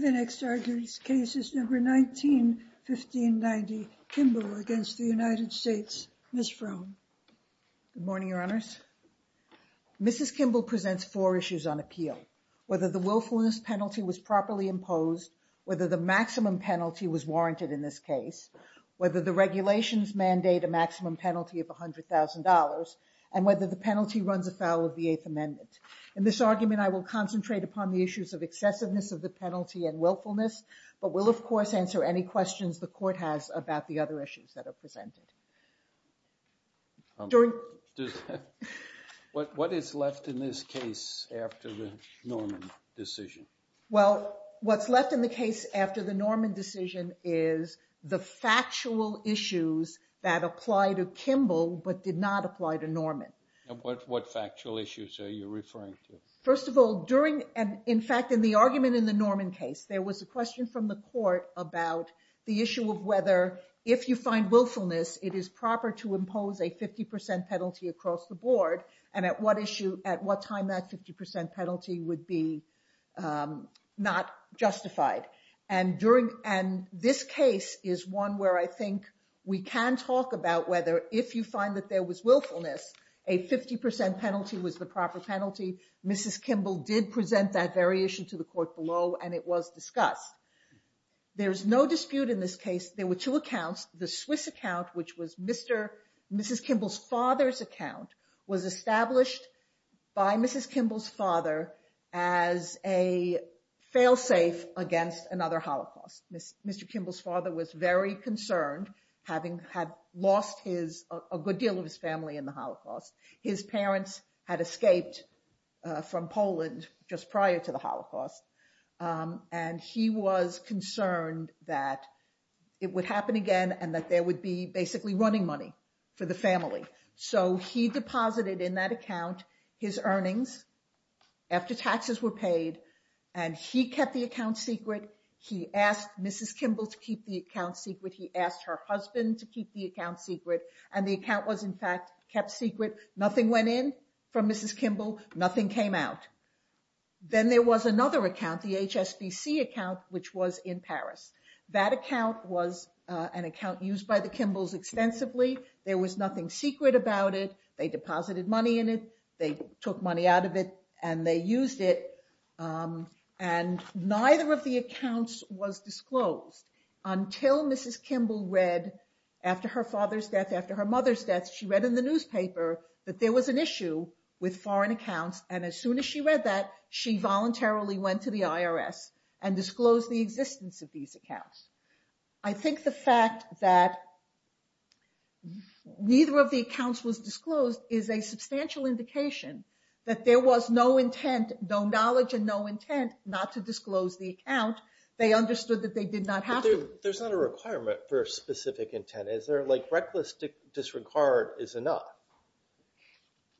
The next argued case is number 19, 1590, Kimble v. United States. Mrs. Fromme. Mrs. Kimble presents four issues on appeal, whether the willfulness penalty was properly imposed, whether the maximum penalty was warranted in this case, whether the regulations mandate a maximum penalty of $100,000, and whether the penalty runs afoul of the Eighth Amendment. In this argument, I will concentrate upon the issues of excessiveness of the penalty and willfulness, but will, of course, answer any questions the court has about the other issues that are presented. What is left in this case after the Norman decision? Well, what's left in the case after the Norman decision is the factual issues that apply to Kimble but did not apply to Norman. What factual issues are you referring to? First of all, in fact, in the argument in the Norman case, there was a question from the court about the issue of whether, if you find willfulness, it is proper to impose a 50% penalty across the board, and at what time that 50% penalty would be not justified. This case is one where I think we can talk about whether, if you find that there was willfulness, a 50% penalty was the proper penalty. Mrs. Kimble did present that very issue to the court below, and it was discussed. There's no dispute in this case. There were two accounts. The Swiss account, which was Mrs. Kimble's father's account, was established by Mrs. Kimble's father as a failsafe against another Holocaust. Mr. Kimble's father was very concerned, having lost a good deal of his family in the Holocaust. His parents had escaped from Poland just prior to the Holocaust, and he was concerned that it would happen again and that there would be basically running money for the family. So he deposited in that account his earnings after taxes were paid, and he kept the account secret. He asked Mrs. Kimble to keep the account secret. He asked her husband to keep the account secret, and the account was, in fact, kept secret. Nothing went in from Mrs. Kimble. Nothing came out. Then there was another account, the HSBC account, which was in Paris. That account was an account used by the Kimbles extensively. There was nothing secret about it. They deposited money in it. They took money out of it, and they used it, and neither of the accounts was disclosed until Mrs. Kimble read, after her father's death, after her mother's death, she read in the newspaper that there was an issue with foreign accounts, and as soon as she read that, she voluntarily went to the IRS and disclosed the existence of these accounts. I think the fact that neither of the accounts was disclosed is a substantial indication that there was no intent, no knowledge, and no intent not to disclose the account. They understood that they did not have to. There's not a requirement for a specific intent. Is there, like, reckless disregard is enough.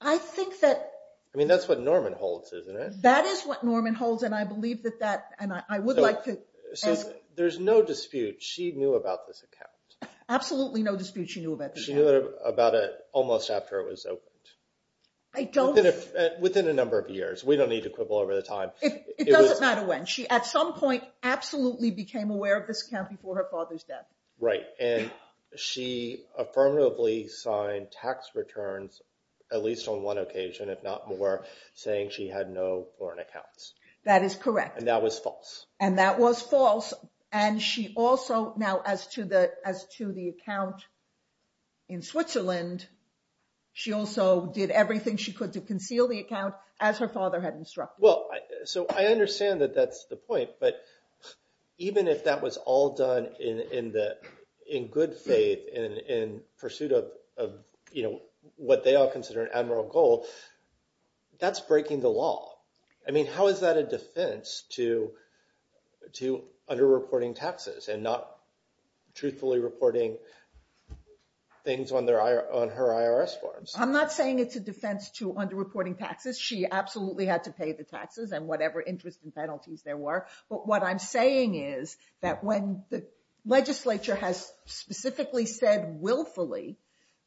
I think that... I mean, that's what Norman holds, isn't it? That is what Norman holds, and I believe that that, and I would like to... So there's no dispute she knew about this account. Absolutely no dispute she knew about this account. She knew about it almost after it was opened. I don't... Within a number of years. We don't need to quibble over the time. It doesn't matter when. She, at some point, absolutely became aware of this account before her father's death. Right, and she affirmatively signed tax returns, at least on one occasion, if not more, saying she had no foreign accounts. That is correct. And that was false. And that was false, and she also... Now, as to the account in Switzerland, she also did everything she could to conceal the account, as her father had instructed. Well, so I understand that that's the point, but even if that was all done in good faith, in pursuit of what they all consider an admiral goal, that's breaking the law. I mean, how is that a defense to underreporting taxes and not truthfully reporting things on her IRS forms? I'm not saying it's a defense to underreporting taxes. She absolutely had to pay the taxes and whatever interest and penalties there were. But what I'm saying is that when the legislature has specifically said willfully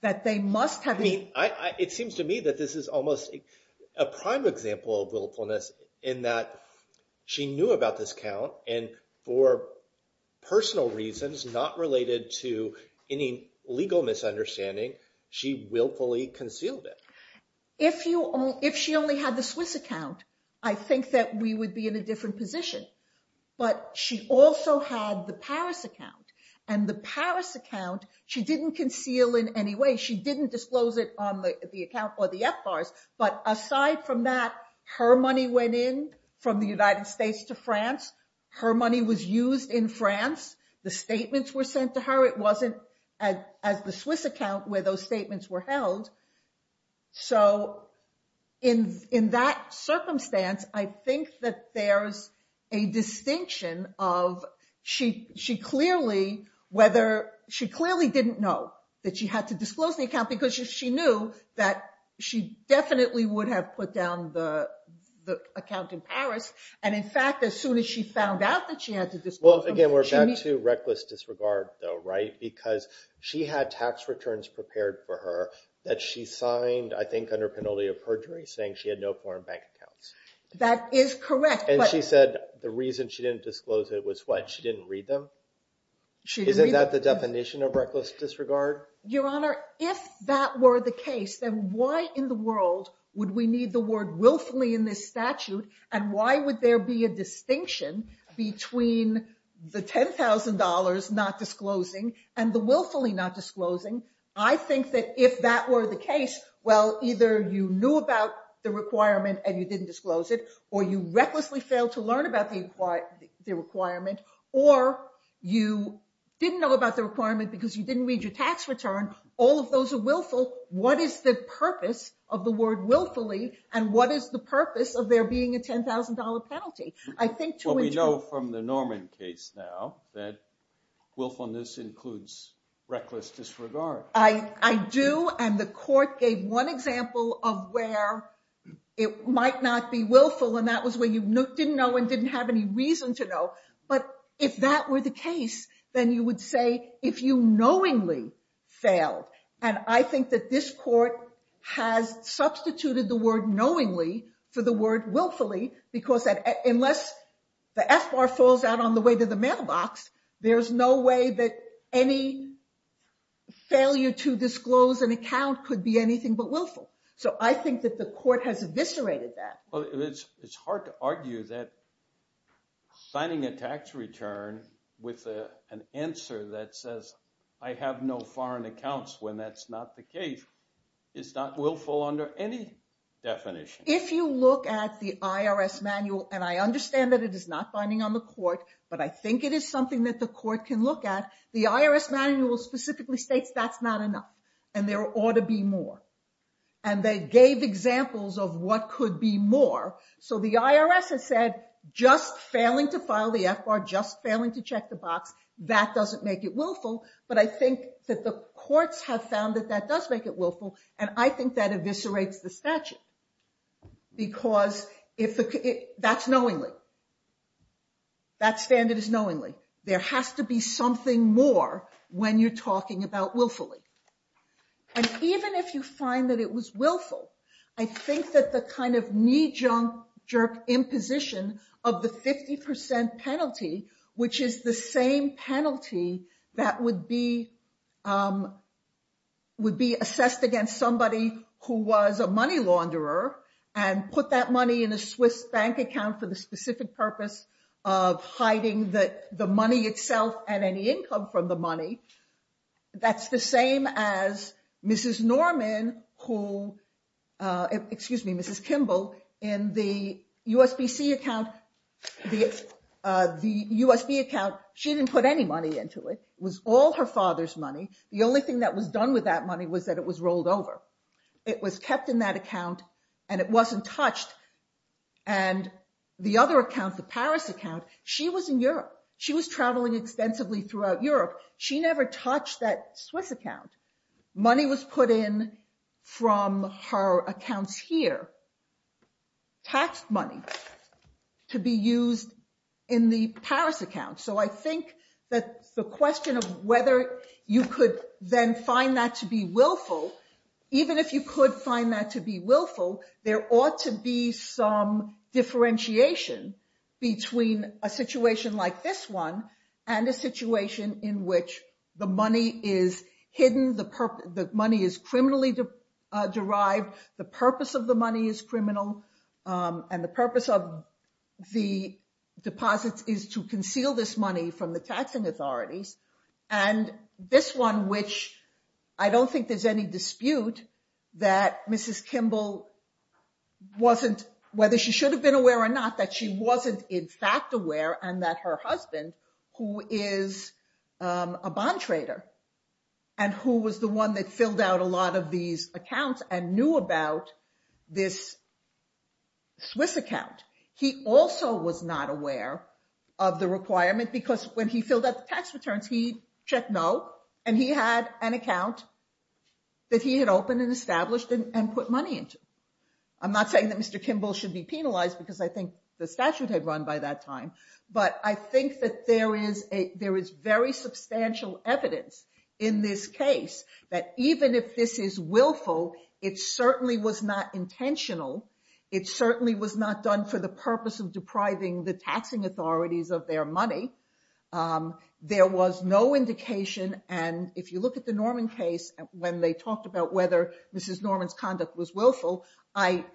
that they must have... I mean, it seems to me that this is almost a prime example of willfulness in that she knew about this account, and for personal reasons, not related to any legal misunderstanding, she willfully concealed it. If she only had the Swiss account, I think that we would be in a different position. But she also had the Paris account, and the Paris account, she didn't conceal in any way. She didn't disclose it on the account or the FBARs. But aside from that, her money went in from the United States to France. Her money was used in France. The statements were sent to her. However, it wasn't as the Swiss account where those statements were held. So in that circumstance, I think that there's a distinction of she clearly didn't know that she had to disclose the account because she knew that she definitely would have put down the account in Paris. And in fact, as soon as she found out that she had to disclose them- Again, we're back to reckless disregard, though, right? Because she had tax returns prepared for her that she signed, I think, under penalty of perjury, saying she had no foreign bank accounts. That is correct. And she said the reason she didn't disclose it was what? She didn't read them? Isn't that the definition of reckless disregard? Your Honor, if that were the case, then why in the world would we need the word willfully in this statute? And why would there be a distinction between the $10,000 not disclosing and the willfully not disclosing? I think that if that were the case, well, either you knew about the requirement and you didn't disclose it, or you recklessly failed to learn about the requirement, or you didn't know about the requirement because you didn't read your tax return. All of those are willful. What is the purpose of the word willfully? And what is the purpose of there being a $10,000 penalty? I think two and two. Well, we know from the Norman case now that willfulness includes reckless disregard. I do. And the court gave one example of where it might not be willful. And that was where you didn't know and didn't have any reason to know. But if that were the case, then you would say if you knowingly failed. And I think that this court has substituted the word knowingly for the word willfully because unless the F bar falls out on the way to the mailbox, there is no way that any failure to disclose an account could be anything but willful. So I think that the court has eviscerated that. It's hard to argue that signing a tax return with an answer that says, I have no foreign accounts when that's not the case, is not willful under any definition. If you look at the IRS manual, and I understand that it is not binding on the court. But I think it is something that the court can look at. The IRS manual specifically states that's not enough. And there ought to be more. And they gave examples of what could be more. So the IRS has said, just failing to file the F bar, just failing to check the box, that doesn't make it willful. But I think that the courts have found that that does make it willful. And I think that eviscerates the statute. Because that's knowingly. That standard is knowingly. There has to be something more when you're talking about willfully. And even if you find that it was willful, I think that the kind of knee-jerk imposition of the 50% penalty, which is the same penalty that would be assessed against somebody who was a money launderer, and put that money in a Swiss bank account for the specific purpose of hiding the money itself and any income from the money, that's the same as Mrs. Norman, who, excuse me, Mrs. Kimball, in the USB account, she didn't put any money into it. It was all her father's money. The only thing that was done with that money was that it was rolled over. It was kept in that account. And it wasn't touched. And the other account, the Paris account, she was in Europe. She was traveling extensively throughout Europe. She never touched that Swiss account. Money was put in from her accounts here, taxed money, to be used in the Paris account. So I think that the question of whether you could then find that to be willful, even if you could find that to be willful, there ought to be some differentiation between a situation like this one and a situation in which the money is hidden, the money is criminally derived, the purpose of the money is criminal, and the purpose of the deposits is to conceal this money from the taxing authorities. And this one, which I don't think there's any dispute that Mrs. Kimball wasn't, whether she should have been aware or not, that she wasn't in fact aware and that her husband, who is a bond trader, and who was the one that filled out a lot of these accounts and knew about this Swiss account, he also was not aware of the requirement because when he filled out the tax returns, he checked no. And he had an account that he had opened and established and put money into. I'm not saying that Mr. Kimball should be penalized because I think the statute had run by that time. But I think that there is very substantial evidence in this case that even if this is willful, it certainly was not intentional. It certainly was not done for the purpose of depriving the taxing authorities of their money. There was no indication. And if you look at the Norman case, when they talked about whether Mrs. Norman's conduct was willful, I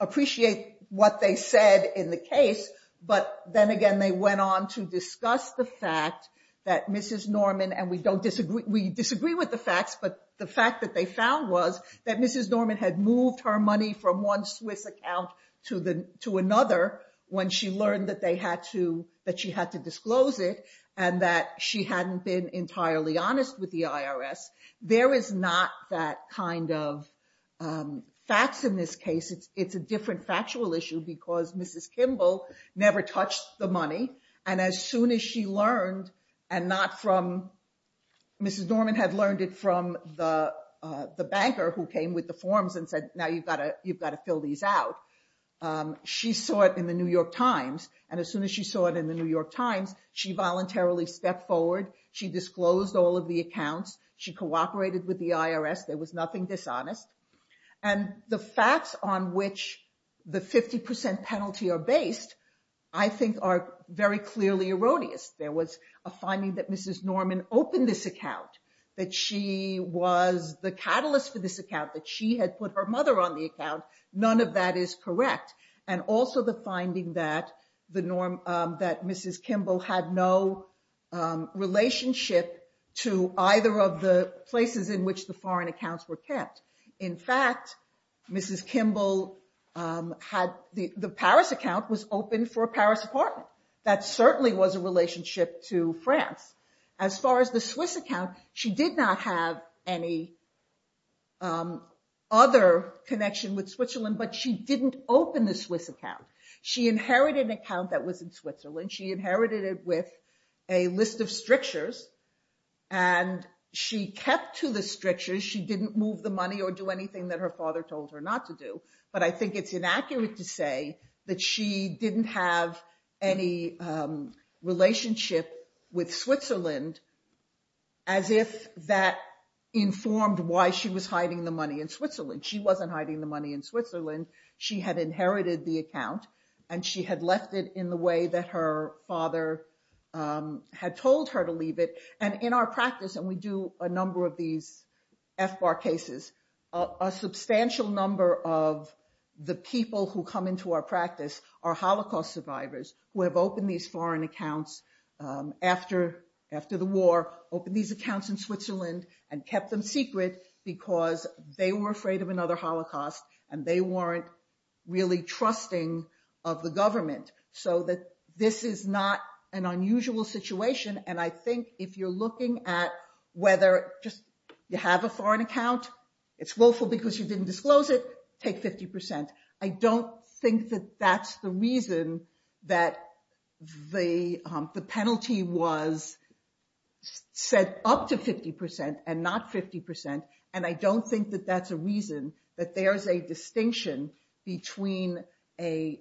appreciate what they said in the case, but then again, they went on to discuss the fact that Mrs. Norman, and we disagree with the facts, but the fact that they found was that Mrs. Norman had moved her money from one Swiss account to another when she learned that she had to disclose it and that she hadn't been entirely honest with the IRS. There is not that kind of facts in this case. It's a different factual issue because Mrs. Kimball never touched the money. And as soon as she learned, and not from... Mrs. Norman had learned it from the banker who came with the forms and said, now you've got to fill these out. She saw it in the New York Times. And as soon as she saw it in the New York Times, she voluntarily stepped forward. She disclosed all of the accounts. She cooperated with the IRS. There was nothing dishonest. And the facts on which the 50% penalty are based, I think are very clearly erroneous. There was a finding that Mrs. Norman opened this account, that she was the catalyst for this account, that she had put her mother on the account. None of that is correct. And also the finding that Mrs. Kimball had no relationship to either of the places in which the foreign accounts were kept. In fact, Mrs. Kimball had... The Paris account was open for a Paris apartment. That certainly was a relationship to France. As far as the Swiss account, she did not have any other connection with Switzerland, but she didn't open the Swiss account. She inherited an account that was in Switzerland. She inherited it with a list of strictures. And she kept to the strictures. She didn't move the money or do anything that her father told her not to do. But I think it's inaccurate to say that she didn't have any relationship with Switzerland as if that informed why she was hiding the money in Switzerland. She wasn't hiding the money in Switzerland. She had inherited the account, and she had left it in the way that her father had told her to leave it. And in our practice, and we do a number of these FBAR cases, a substantial number of the people who come into our practice are Holocaust survivors who have opened these foreign accounts after the war, opened these accounts in Switzerland and kept them secret because they were afraid of another Holocaust and they weren't really trusting of the government. So this is not an unusual situation. And I think if you're looking at whether just you have a foreign account, it's willful because you didn't disclose it, take 50%. I don't think that that's the reason that the penalty was set up to 50% and not 50%. And I don't think that that's a reason that there's a distinction between a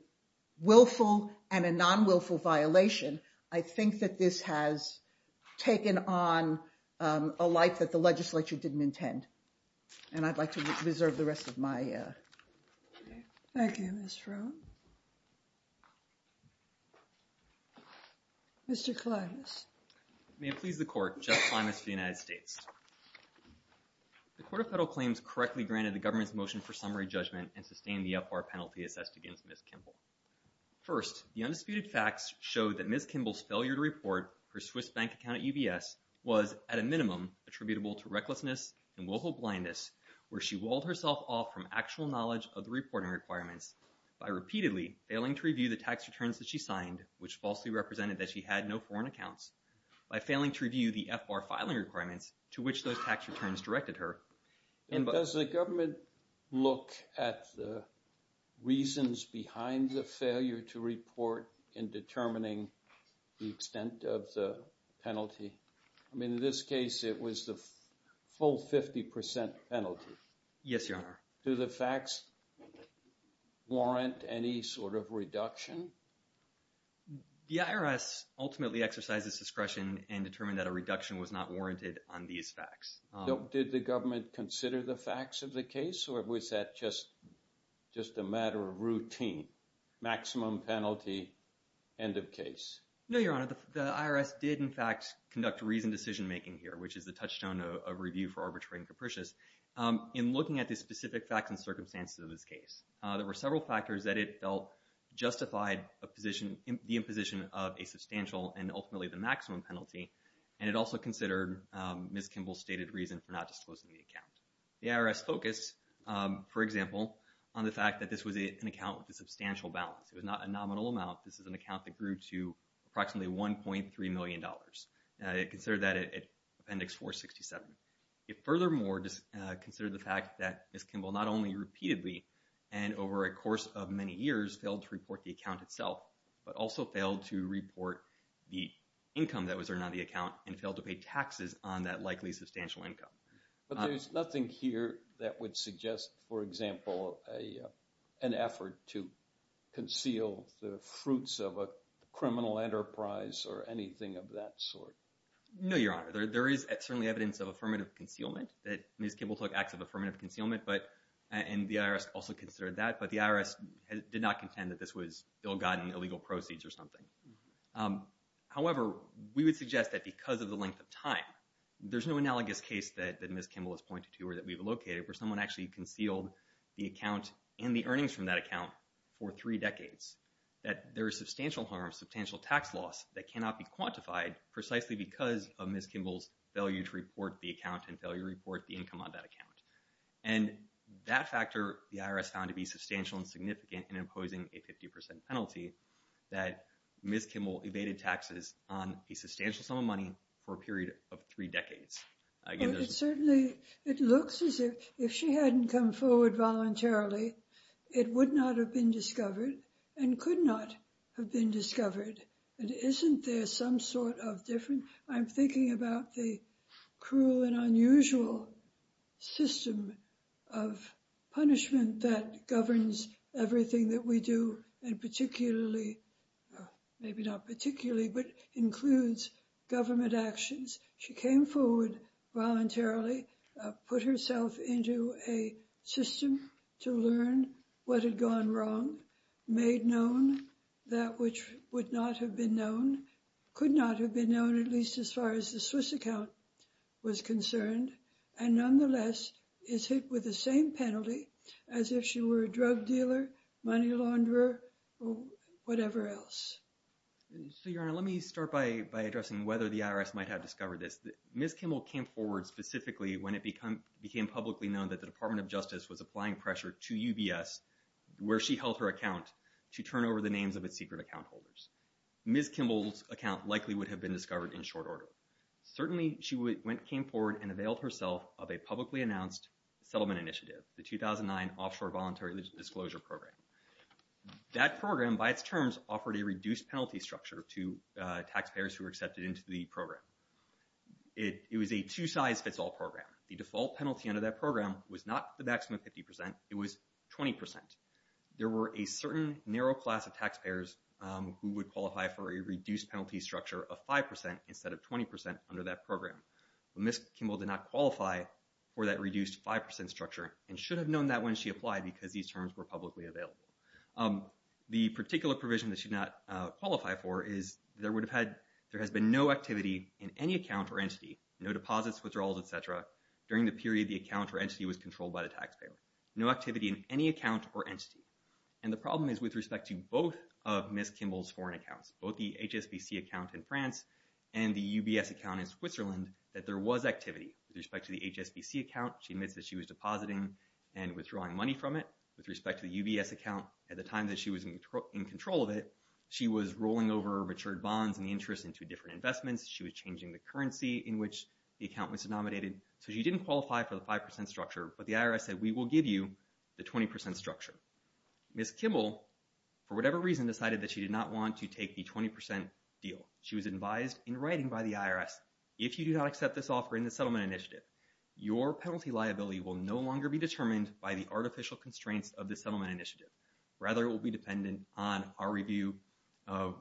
willful and a non-willful violation. I think that this has taken on a life that the legislature didn't intend. And I'd like to reserve the rest of my time. Thank you, Ms. Frohn. Mr. Klimas. May it please the Court, Jeff Klimas for the United States. The Court of Federal Claims correctly granted the government's motion for summary judgment and sustained the FBAR penalty assessed against Ms. Kimball. First, the undisputed facts showed that Ms. Kimball's failure to report her Swiss bank account at UBS was, at a minimum, attributable to recklessness and willful blindness, where she walled herself off from actual knowledge of the reporting requirements by repeatedly failing to review the tax returns that she signed, which falsely represented that she had no foreign accounts, by failing to review the FBAR filing requirements to which those tax returns directed her. And does the government look at the reasons behind the failure to report in determining the extent of the penalty? I mean, in this case, it was the full 50% penalty. Yes, Your Honor. Do the facts warrant any sort of reduction? The IRS ultimately exercised its discretion and determined that a reduction was not warranted on these facts. Did the government consider the facts of the case, or was that just a matter of routine? Maximum penalty, end of case. No, Your Honor. The IRS did, in fact, conduct reasoned decision-making here, which is the touchstone of review for arbitrating capricious, in looking at the specific facts and circumstances of this case. There were several factors that it felt justified the imposition of a substantial and ultimately the maximum penalty, and it also considered Ms. Kimball's stated reason for not disclosing the account. The IRS focused, for example, on the fact that this was an account with a substantial balance. It was not a nominal amount. This is an account that grew to approximately $1.3 million. It considered that at Appendix 467. It furthermore considered the fact that Ms. Kimball, not only repeatedly and over a course of many years, failed to report the account itself, but also failed to report the income that was earned on the account and failed to pay taxes on that likely substantial income. But there's nothing here that would suggest, for example, an effort to conceal the fruits of a criminal enterprise or anything of that sort. No, Your Honor. There is certainly evidence of affirmative concealment, that Ms. Kimball took acts of affirmative concealment, and the IRS also considered that, but the IRS did not contend that this was ill-gotten, However, we would suggest that because of the length of time, there's no analogous case that Ms. Kimball has pointed to or that we've located where someone actually concealed the account and the earnings from that account for three decades, that there is substantial harm, substantial tax loss that cannot be quantified precisely because of Ms. Kimball's failure to report the account and failure to report the income on that account. And that factor, the IRS found to be substantial and significant in imposing a 50% penalty, that Ms. Kimball evaded taxes on a substantial sum of money for a period of three decades. It certainly, it looks as if she hadn't come forward voluntarily, it would not have been discovered and could not have been discovered. And isn't there some sort of different, I'm thinking about the cruel and unusual system of punishment that governs everything that we do, and particularly, maybe not particularly, but includes government actions. She came forward voluntarily, put herself into a system to learn what had gone wrong, made known that which would not have been known, could not have been known, at least as far as the Swiss account was concerned, and nonetheless is hit with the same penalty as if she were a drug dealer, money launderer, or whatever else. So, Your Honor, let me start by addressing whether the IRS might have discovered this. Ms. Kimball came forward specifically when it became publicly known that the Department of Justice was applying pressure to UBS, where she held her account, to turn over the names of its secret account holders. Ms. Kimball's account likely would have been discovered in short order. Certainly, she came forward and availed herself of a publicly announced settlement initiative, the 2009 Offshore Voluntary Disclosure Program. That program, by its terms, offered a reduced penalty structure to taxpayers who were accepted into the program. It was a two-size-fits-all program. The default penalty under that program was not the maximum 50%, it was 20%. There were a certain narrow class of taxpayers who would qualify for a reduced penalty structure of 5% instead of 20% under that program. Ms. Kimball did not qualify for that reduced 5% structure and should have known that when she applied because these terms were publicly available. The particular provision that she did not qualify for is there has been no activity in any account or entity, no deposits, withdrawals, et cetera, during the period the account or entity was controlled by the taxpayer. No activity in any account or entity. And the problem is with respect to both of Ms. Kimball's foreign accounts, both the HSBC account in France and the UBS account in Switzerland, that there was activity. With respect to the HSBC account, she admits that she was depositing and withdrawing money from it. With respect to the UBS account, at the time that she was in control of it, she was rolling over matured bonds and interest into different investments. She was changing the currency in which the account was denominated. So she didn't qualify for the 5% structure, but the IRS said, we will give you the 20% structure. Ms. Kimball, for whatever reason, decided that she did not want to take the 20% deal. She was advised in writing by the IRS, if you do not accept this offer in the settlement initiative, your penalty liability will no longer be determined by the artificial constraints of the settlement initiative. Rather, it will be dependent on our review of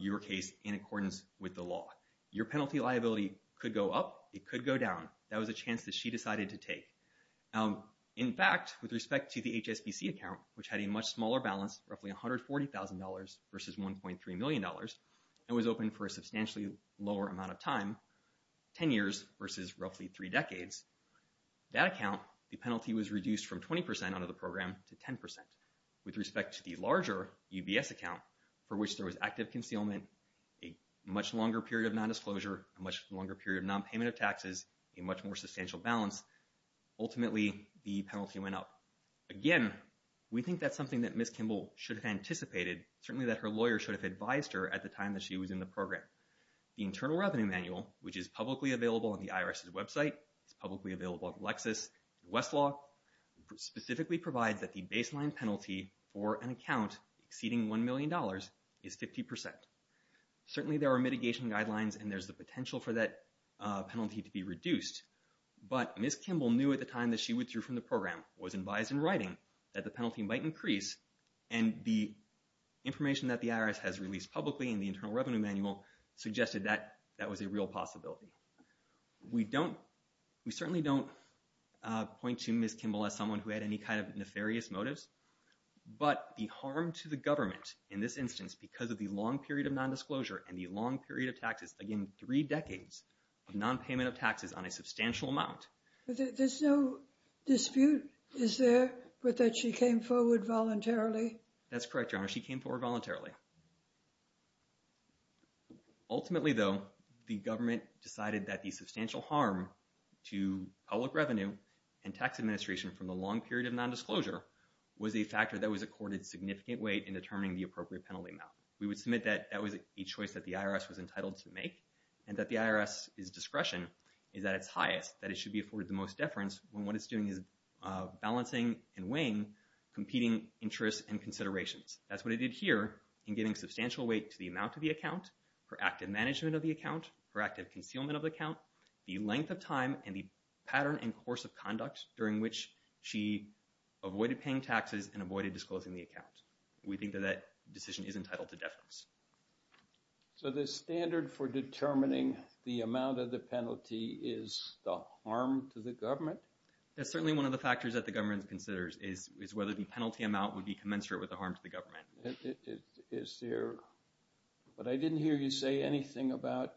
your case in accordance with the law. Your penalty liability could go up, it could go down. That was a chance that she decided to take. In fact, with respect to the HSBC account, which had a much smaller balance, roughly $140,000 versus $1.3 million, and was open for a substantially lower amount of time, 10 years versus roughly three decades, that account, the penalty was reduced from 20% under the program to 10%. With respect to the larger UBS account, for which there was active concealment, a much longer period of non-disclosure, a much longer period of non-payment of taxes, a much more substantial balance, ultimately, the penalty went up. Again, we think that's something that Ms. Kimball should have anticipated, certainly that her lawyer should have advised her at the time that she was in the program. The Internal Revenue Manual, which is publicly available on the IRS's website, it's publicly available at Lexis, Westlaw, specifically provides that the baseline penalty for an account exceeding $1 million is 50%. Certainly, there are mitigation guidelines and there's the potential for that penalty to be reduced, but Ms. Kimball knew at the time that she withdrew from the program, was advised in writing that the penalty might increase, and the information that the IRS has released publicly in the Internal Revenue Manual suggested that that was a real possibility. We don't, we certainly don't point to Ms. Kimball as someone who had any kind of nefarious motives, but the harm to the government in this instance because of the long period of non-disclosure and the long period of taxes, again, three decades of non-payment of taxes on a substantial amount. There's no dispute, is there, that she came forward voluntarily? That's correct, Your Honor, she came forward voluntarily. Ultimately, though, the government decided that the substantial harm to public revenue and tax administration from the long period of non-disclosure was a factor that was accorded significant weight in determining the appropriate penalty amount. We would submit that that was a choice that the IRS was entitled to make and that the IRS's discretion is at its highest, that it should be afforded the most deference when what it's doing is balancing and weighing competing interests and considerations. That's what it did here in giving substantial weight to the amount of the account, her active management of the account, her active concealment of the account, the length of time and the pattern and course of conduct during which she avoided paying taxes and avoided disclosing the account. We think that that decision is entitled to deference. So the standard for determining the amount of the penalty is the harm to the government? That's certainly one of the factors that the government considers is whether the penalty amount would be commensurate with the harm to the government. Is there, but I didn't hear you say anything about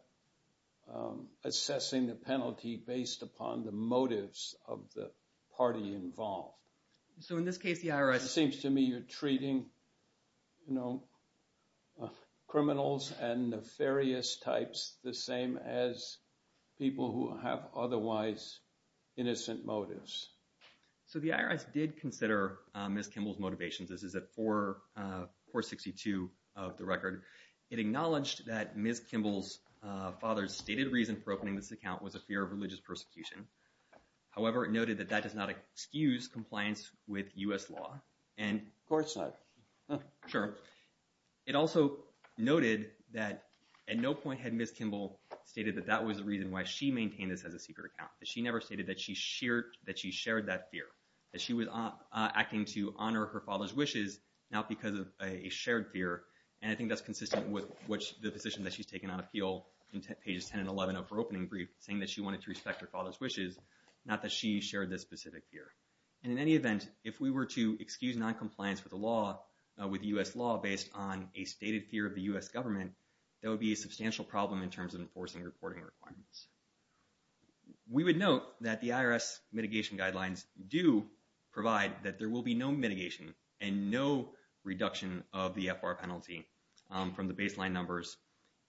assessing the penalty based upon the motives of the party involved. So in this case, the IRS... It seems to me you're treating criminals and nefarious types the same as people who have otherwise innocent motives. So the IRS did consider Ms. Kimball's motivations. This is at 462 of the record. It acknowledged that Ms. Kimball's father's stated reason for opening this account was a fear of religious persecution. However, it noted that that does not excuse compliance with US law and... Court side. Sure. It also noted that at no point had Ms. Kimball stated that that was the reason why she maintained this as a secret account. That she never stated that she shared that fear. That she was acting to honor her father's wishes not because of a shared fear. And I think that's consistent with the position that she's taken out of heel in pages 10 and 11 of her opening brief saying that she wanted to respect her father's wishes not that she shared this specific fear. And in any event, if we were to excuse non-compliance with the law, with US law based on a stated fear of the US government, that would be a substantial problem in terms of enforcing reporting requirements. We would note that the IRS mitigation guidelines do provide that there will be no mitigation and no reduction of the FR penalty from the baseline numbers.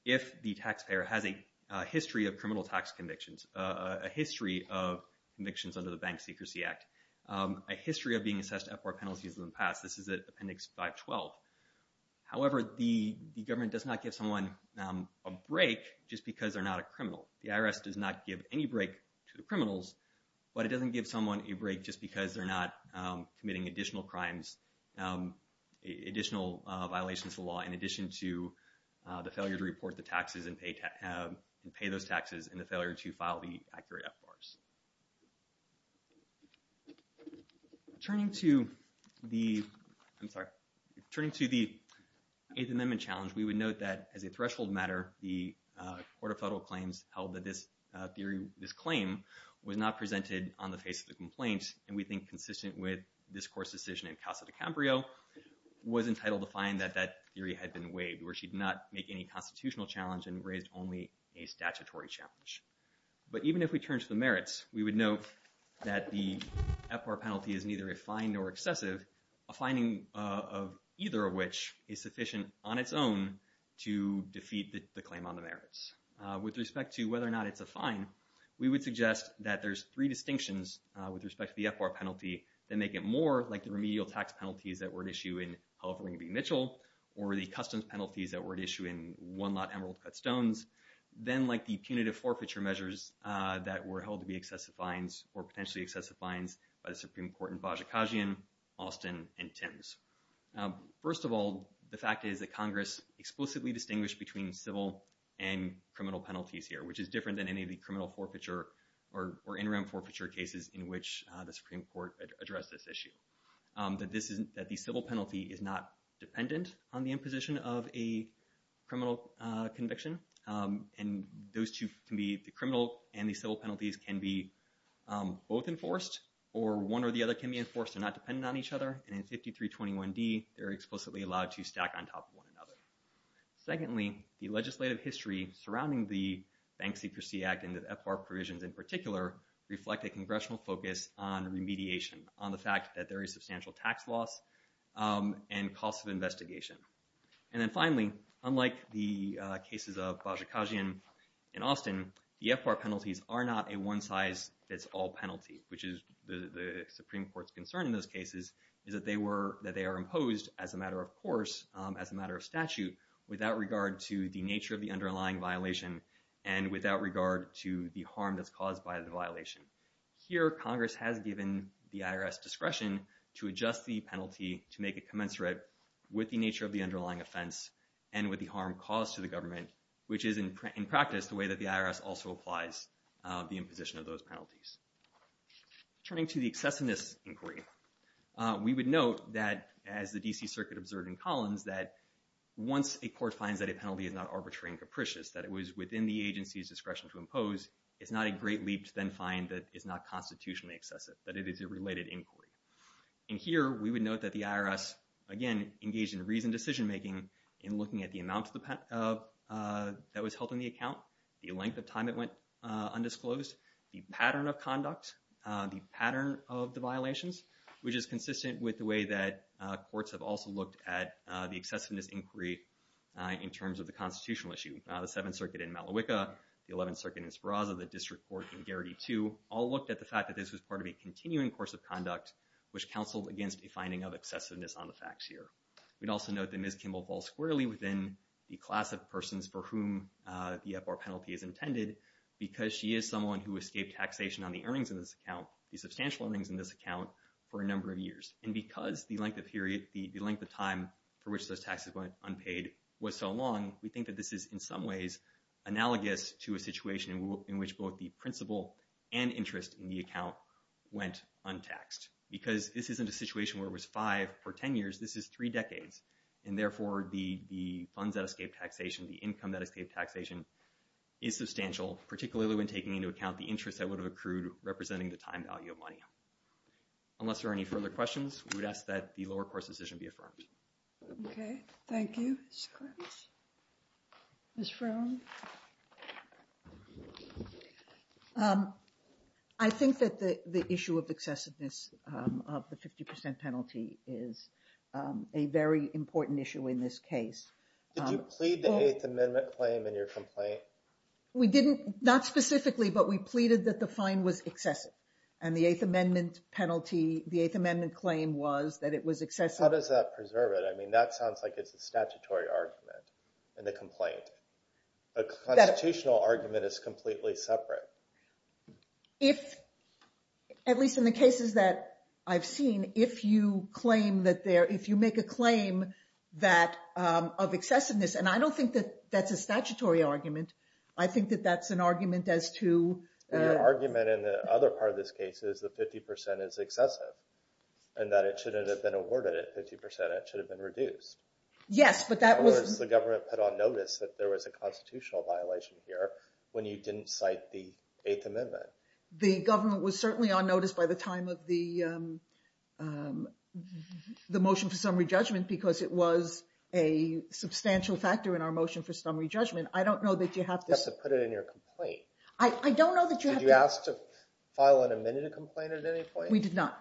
If the taxpayer has a history of criminal tax convictions, a history of convictions under the Bank Secrecy Act, a history of being assessed FR penalties in the past. This is at appendix 512. just because they're not a criminal. The IRS does not give any break to the criminals, but it doesn't give someone a break just because they're not committing additional crimes, additional violations of law in addition to the failure to report the taxes and pay those taxes and the failure to file the accurate FRs. Turning to the, I'm sorry. Turning to the 8th Amendment challenge, we would note that as a threshold matter, the Court of Federal Claims held that this claim was not presented on the face of the complaint and we think consistent with this court's decision in Casa de Cambrio, was entitled to find that that theory had been waived where she did not make any constitutional challenge and raised only a statutory challenge. But even if we turn to the merits, we would note that the FR penalty is neither refined nor excessive, a finding of either of which is sufficient on its own to defeat the claim on the merits. With respect to whether or not it's a fine, we would suggest that there's three distinctions with respect to the FR penalty that make it more like the remedial tax penalties that were at issue in California v. Mitchell or the customs penalties that were at issue in one lot Emerald Cut Stones, then like the punitive forfeiture measures that were held to be excessive fines or potentially excessive fines by the Supreme Court in Vajikajian, Austin and Thames. First of all, the fact is that Congress explicitly distinguished between civil and criminal penalties here, which is different than any of the criminal forfeiture or interim forfeiture cases in which the Supreme Court addressed this issue. That the civil penalty is not dependent on the imposition of a criminal conviction. And those two can be the criminal and the civil penalties can be both enforced or one or the other can be enforced and not dependent on each other. And in 5321D, they're explicitly allowed to stack on top of one another. Secondly, the legislative history surrounding the Bank Secrecy Act and the FR provisions in particular reflect a congressional focus on remediation on the fact that there is substantial tax loss and cost of investigation. And then finally, unlike the cases of Vajikajian in Austin, the FR penalties are not a one size fits all penalty, which is the Supreme Court's concern in those cases is that they are imposed as a matter of course, as a matter of statute, without regard to the nature of the underlying violation and without regard to the harm that's caused by the violation. Here, Congress has given the IRS discretion to adjust the penalty to make it commensurate with the nature of the underlying offense and with the harm caused to the government, which is in practice the way that the IRS also applies the imposition of those penalties. Turning to the excessiveness inquiry, we would note that as the DC Circuit observed in Collins, that once a court finds that a penalty is not arbitrary and capricious, that it was within the agency's discretion to impose, it's not a great leap to then find that it's not constitutionally excessive, that it is a related inquiry. And here, we would note that the IRS, again, engaged in reasoned decision-making in looking at the amount that was held in the account, the length of time it went undisclosed, the pattern of conduct, the pattern of the violations, which is consistent with the way that courts have also looked at the excessiveness inquiry in terms of the constitutional issue. The Seventh Circuit in Malawika, the Eleventh Circuit in Speraza, the District Court in Garrity II, all looked at the fact that this was part of a continuing course of conduct, which counseled against a finding of excessiveness on the facts here. We'd also note that Ms. Kimball falls squarely within the class of persons for whom the FR penalty is intended because she is someone who escaped taxation on the earnings of this account, the substantial earnings in this account, for a number of years. And because the length of time for which those taxes went unpaid was so long, we think that this is in some ways analogous to a situation in which both the principal and interest in the account went untaxed. Because this isn't a situation where it was five for 10 years, this is three decades. And therefore, the funds that escaped taxation, the income that escaped taxation is substantial, particularly when taking into account the interest that would have accrued representing the time value of money. Unless there are any further questions, we would ask that the lower course decision be affirmed. Okay, thank you, Mr. Clements. Ms. Frown? I think that the issue of excessiveness of the 50% penalty is a very important issue in this case. Did you plead the Eighth Amendment claim in your complaint? We didn't, not specifically, but we pleaded that the fine was excessive. And the Eighth Amendment penalty, the Eighth Amendment claim was that it was excessive. How does that preserve it? I mean, that sounds like it's a statutory argument in the complaint. A constitutional argument is completely separate. At least in the cases that I've seen, if you claim that there, if you make a claim of excessiveness, and I don't think that that's a statutory argument. I think that that's an argument as to- The argument in the other part of this case is that 50% is excessive, and that it shouldn't have been awarded at 50%, it should have been reduced. Yes, but that was- That was the government put on notice that there was a constitutional violation here when you didn't cite the Eighth Amendment. The government was certainly on notice by the time of the motion for summary judgment, because it was a substantial factor in our motion for summary judgment. I don't know that you have to- You have to put it in your complaint. I don't know that you have to- Did you ask to file an amended complaint at any point? We did not.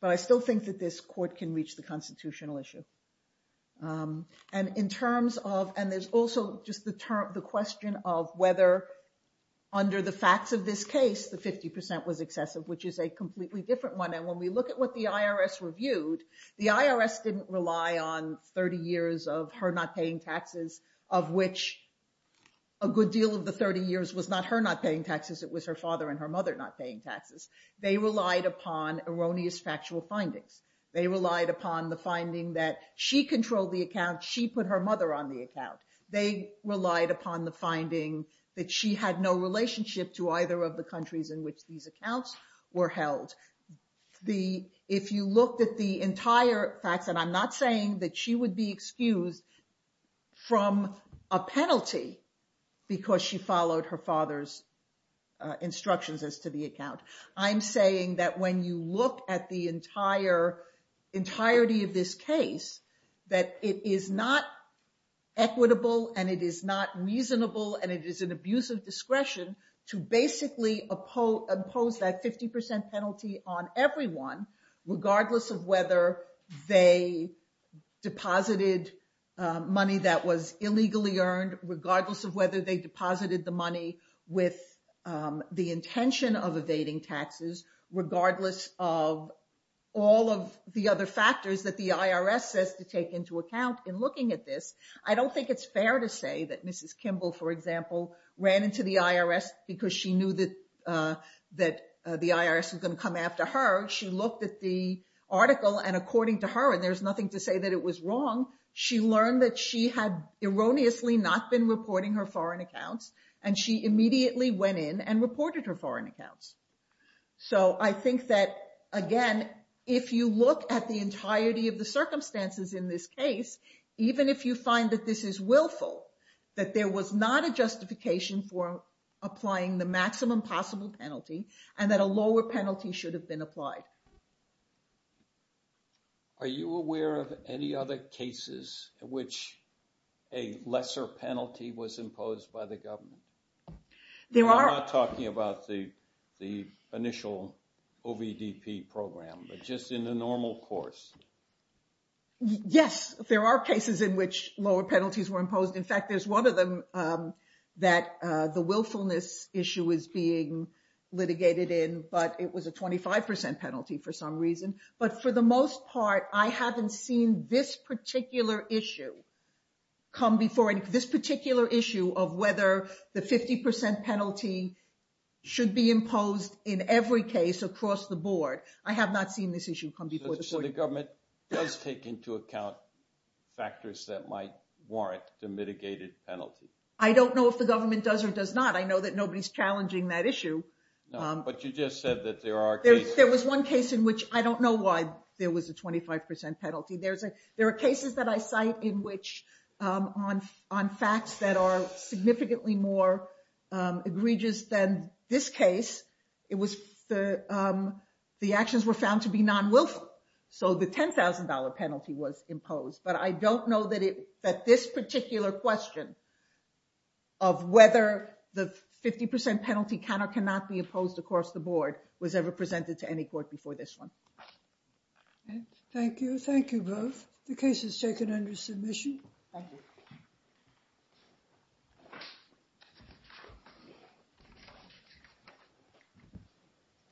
But I still think that this court can reach the constitutional issue. And in terms of, and there's also just the question of whether under the facts of this case, the 50% was excessive, which is a completely different one. And when we look at what the IRS reviewed, the IRS didn't rely on 30 years of her not paying taxes, of which a good deal of the 30 years was not her not paying taxes, it was her father and her mother not paying taxes. They relied upon erroneous factual findings. They relied upon the finding that she controlled the account, she put her mother on the account. They relied upon the finding that she had no relationship to either of the countries in which these accounts were held. If you looked at the entire facts, and I'm not saying that she would be excused from a penalty because she followed her father's instructions as to the account. I'm saying that when you look at the entirety of this case, that it is not equitable and it is not reasonable and it is an abuse of discretion to basically impose that 50% penalty on everyone regardless of whether they deposited money that was illegally earned, regardless of whether they deposited the money with the intention of evading taxes, regardless of all of the other factors that the IRS says to take into account in looking at this. I don't think it's fair to say that Mrs. Kimball, for example, ran into the IRS because she knew that the IRS was gonna come after her. She looked at the article and according to her, and there's nothing to say that it was wrong, she learned that she had erroneously not been reporting her foreign accounts and she immediately went in and reported her foreign accounts. So I think that, again, if you look at the entirety of the circumstances in this case, even if you find that this is willful, that there was not a justification for applying the maximum possible penalty and that a lower penalty should have been applied. Are you aware of any other cases in which a lesser penalty was imposed by the government? There are. I'm not talking about the initial OVDP program, but just in the normal course. Yes, there are cases in which lower penalties were imposed. In fact, there's one of them that the willfulness issue is being litigated in, but it was a 25% penalty for some reason. But for the most part, I haven't seen this particular issue come before this particular issue of whether the 50% penalty should be imposed in every case across the board. I have not seen this issue come before the board. So the government does take into account factors that might warrant the mitigated penalty? I don't know if the government does or does not. I know that nobody's challenging that issue. But you just said that there are cases. There was one case in which, I don't know why there was a 25% penalty. There are cases that I cite in which on facts that are significantly more egregious than this case, the actions were found to be non-wilful. So the $10,000 penalty was imposed. But I don't know that this particular question of whether the 50% penalty can or cannot be imposed across the board was ever presented to any court before this one. Thank you. Thank you both. The case is taken under submission. Thank you.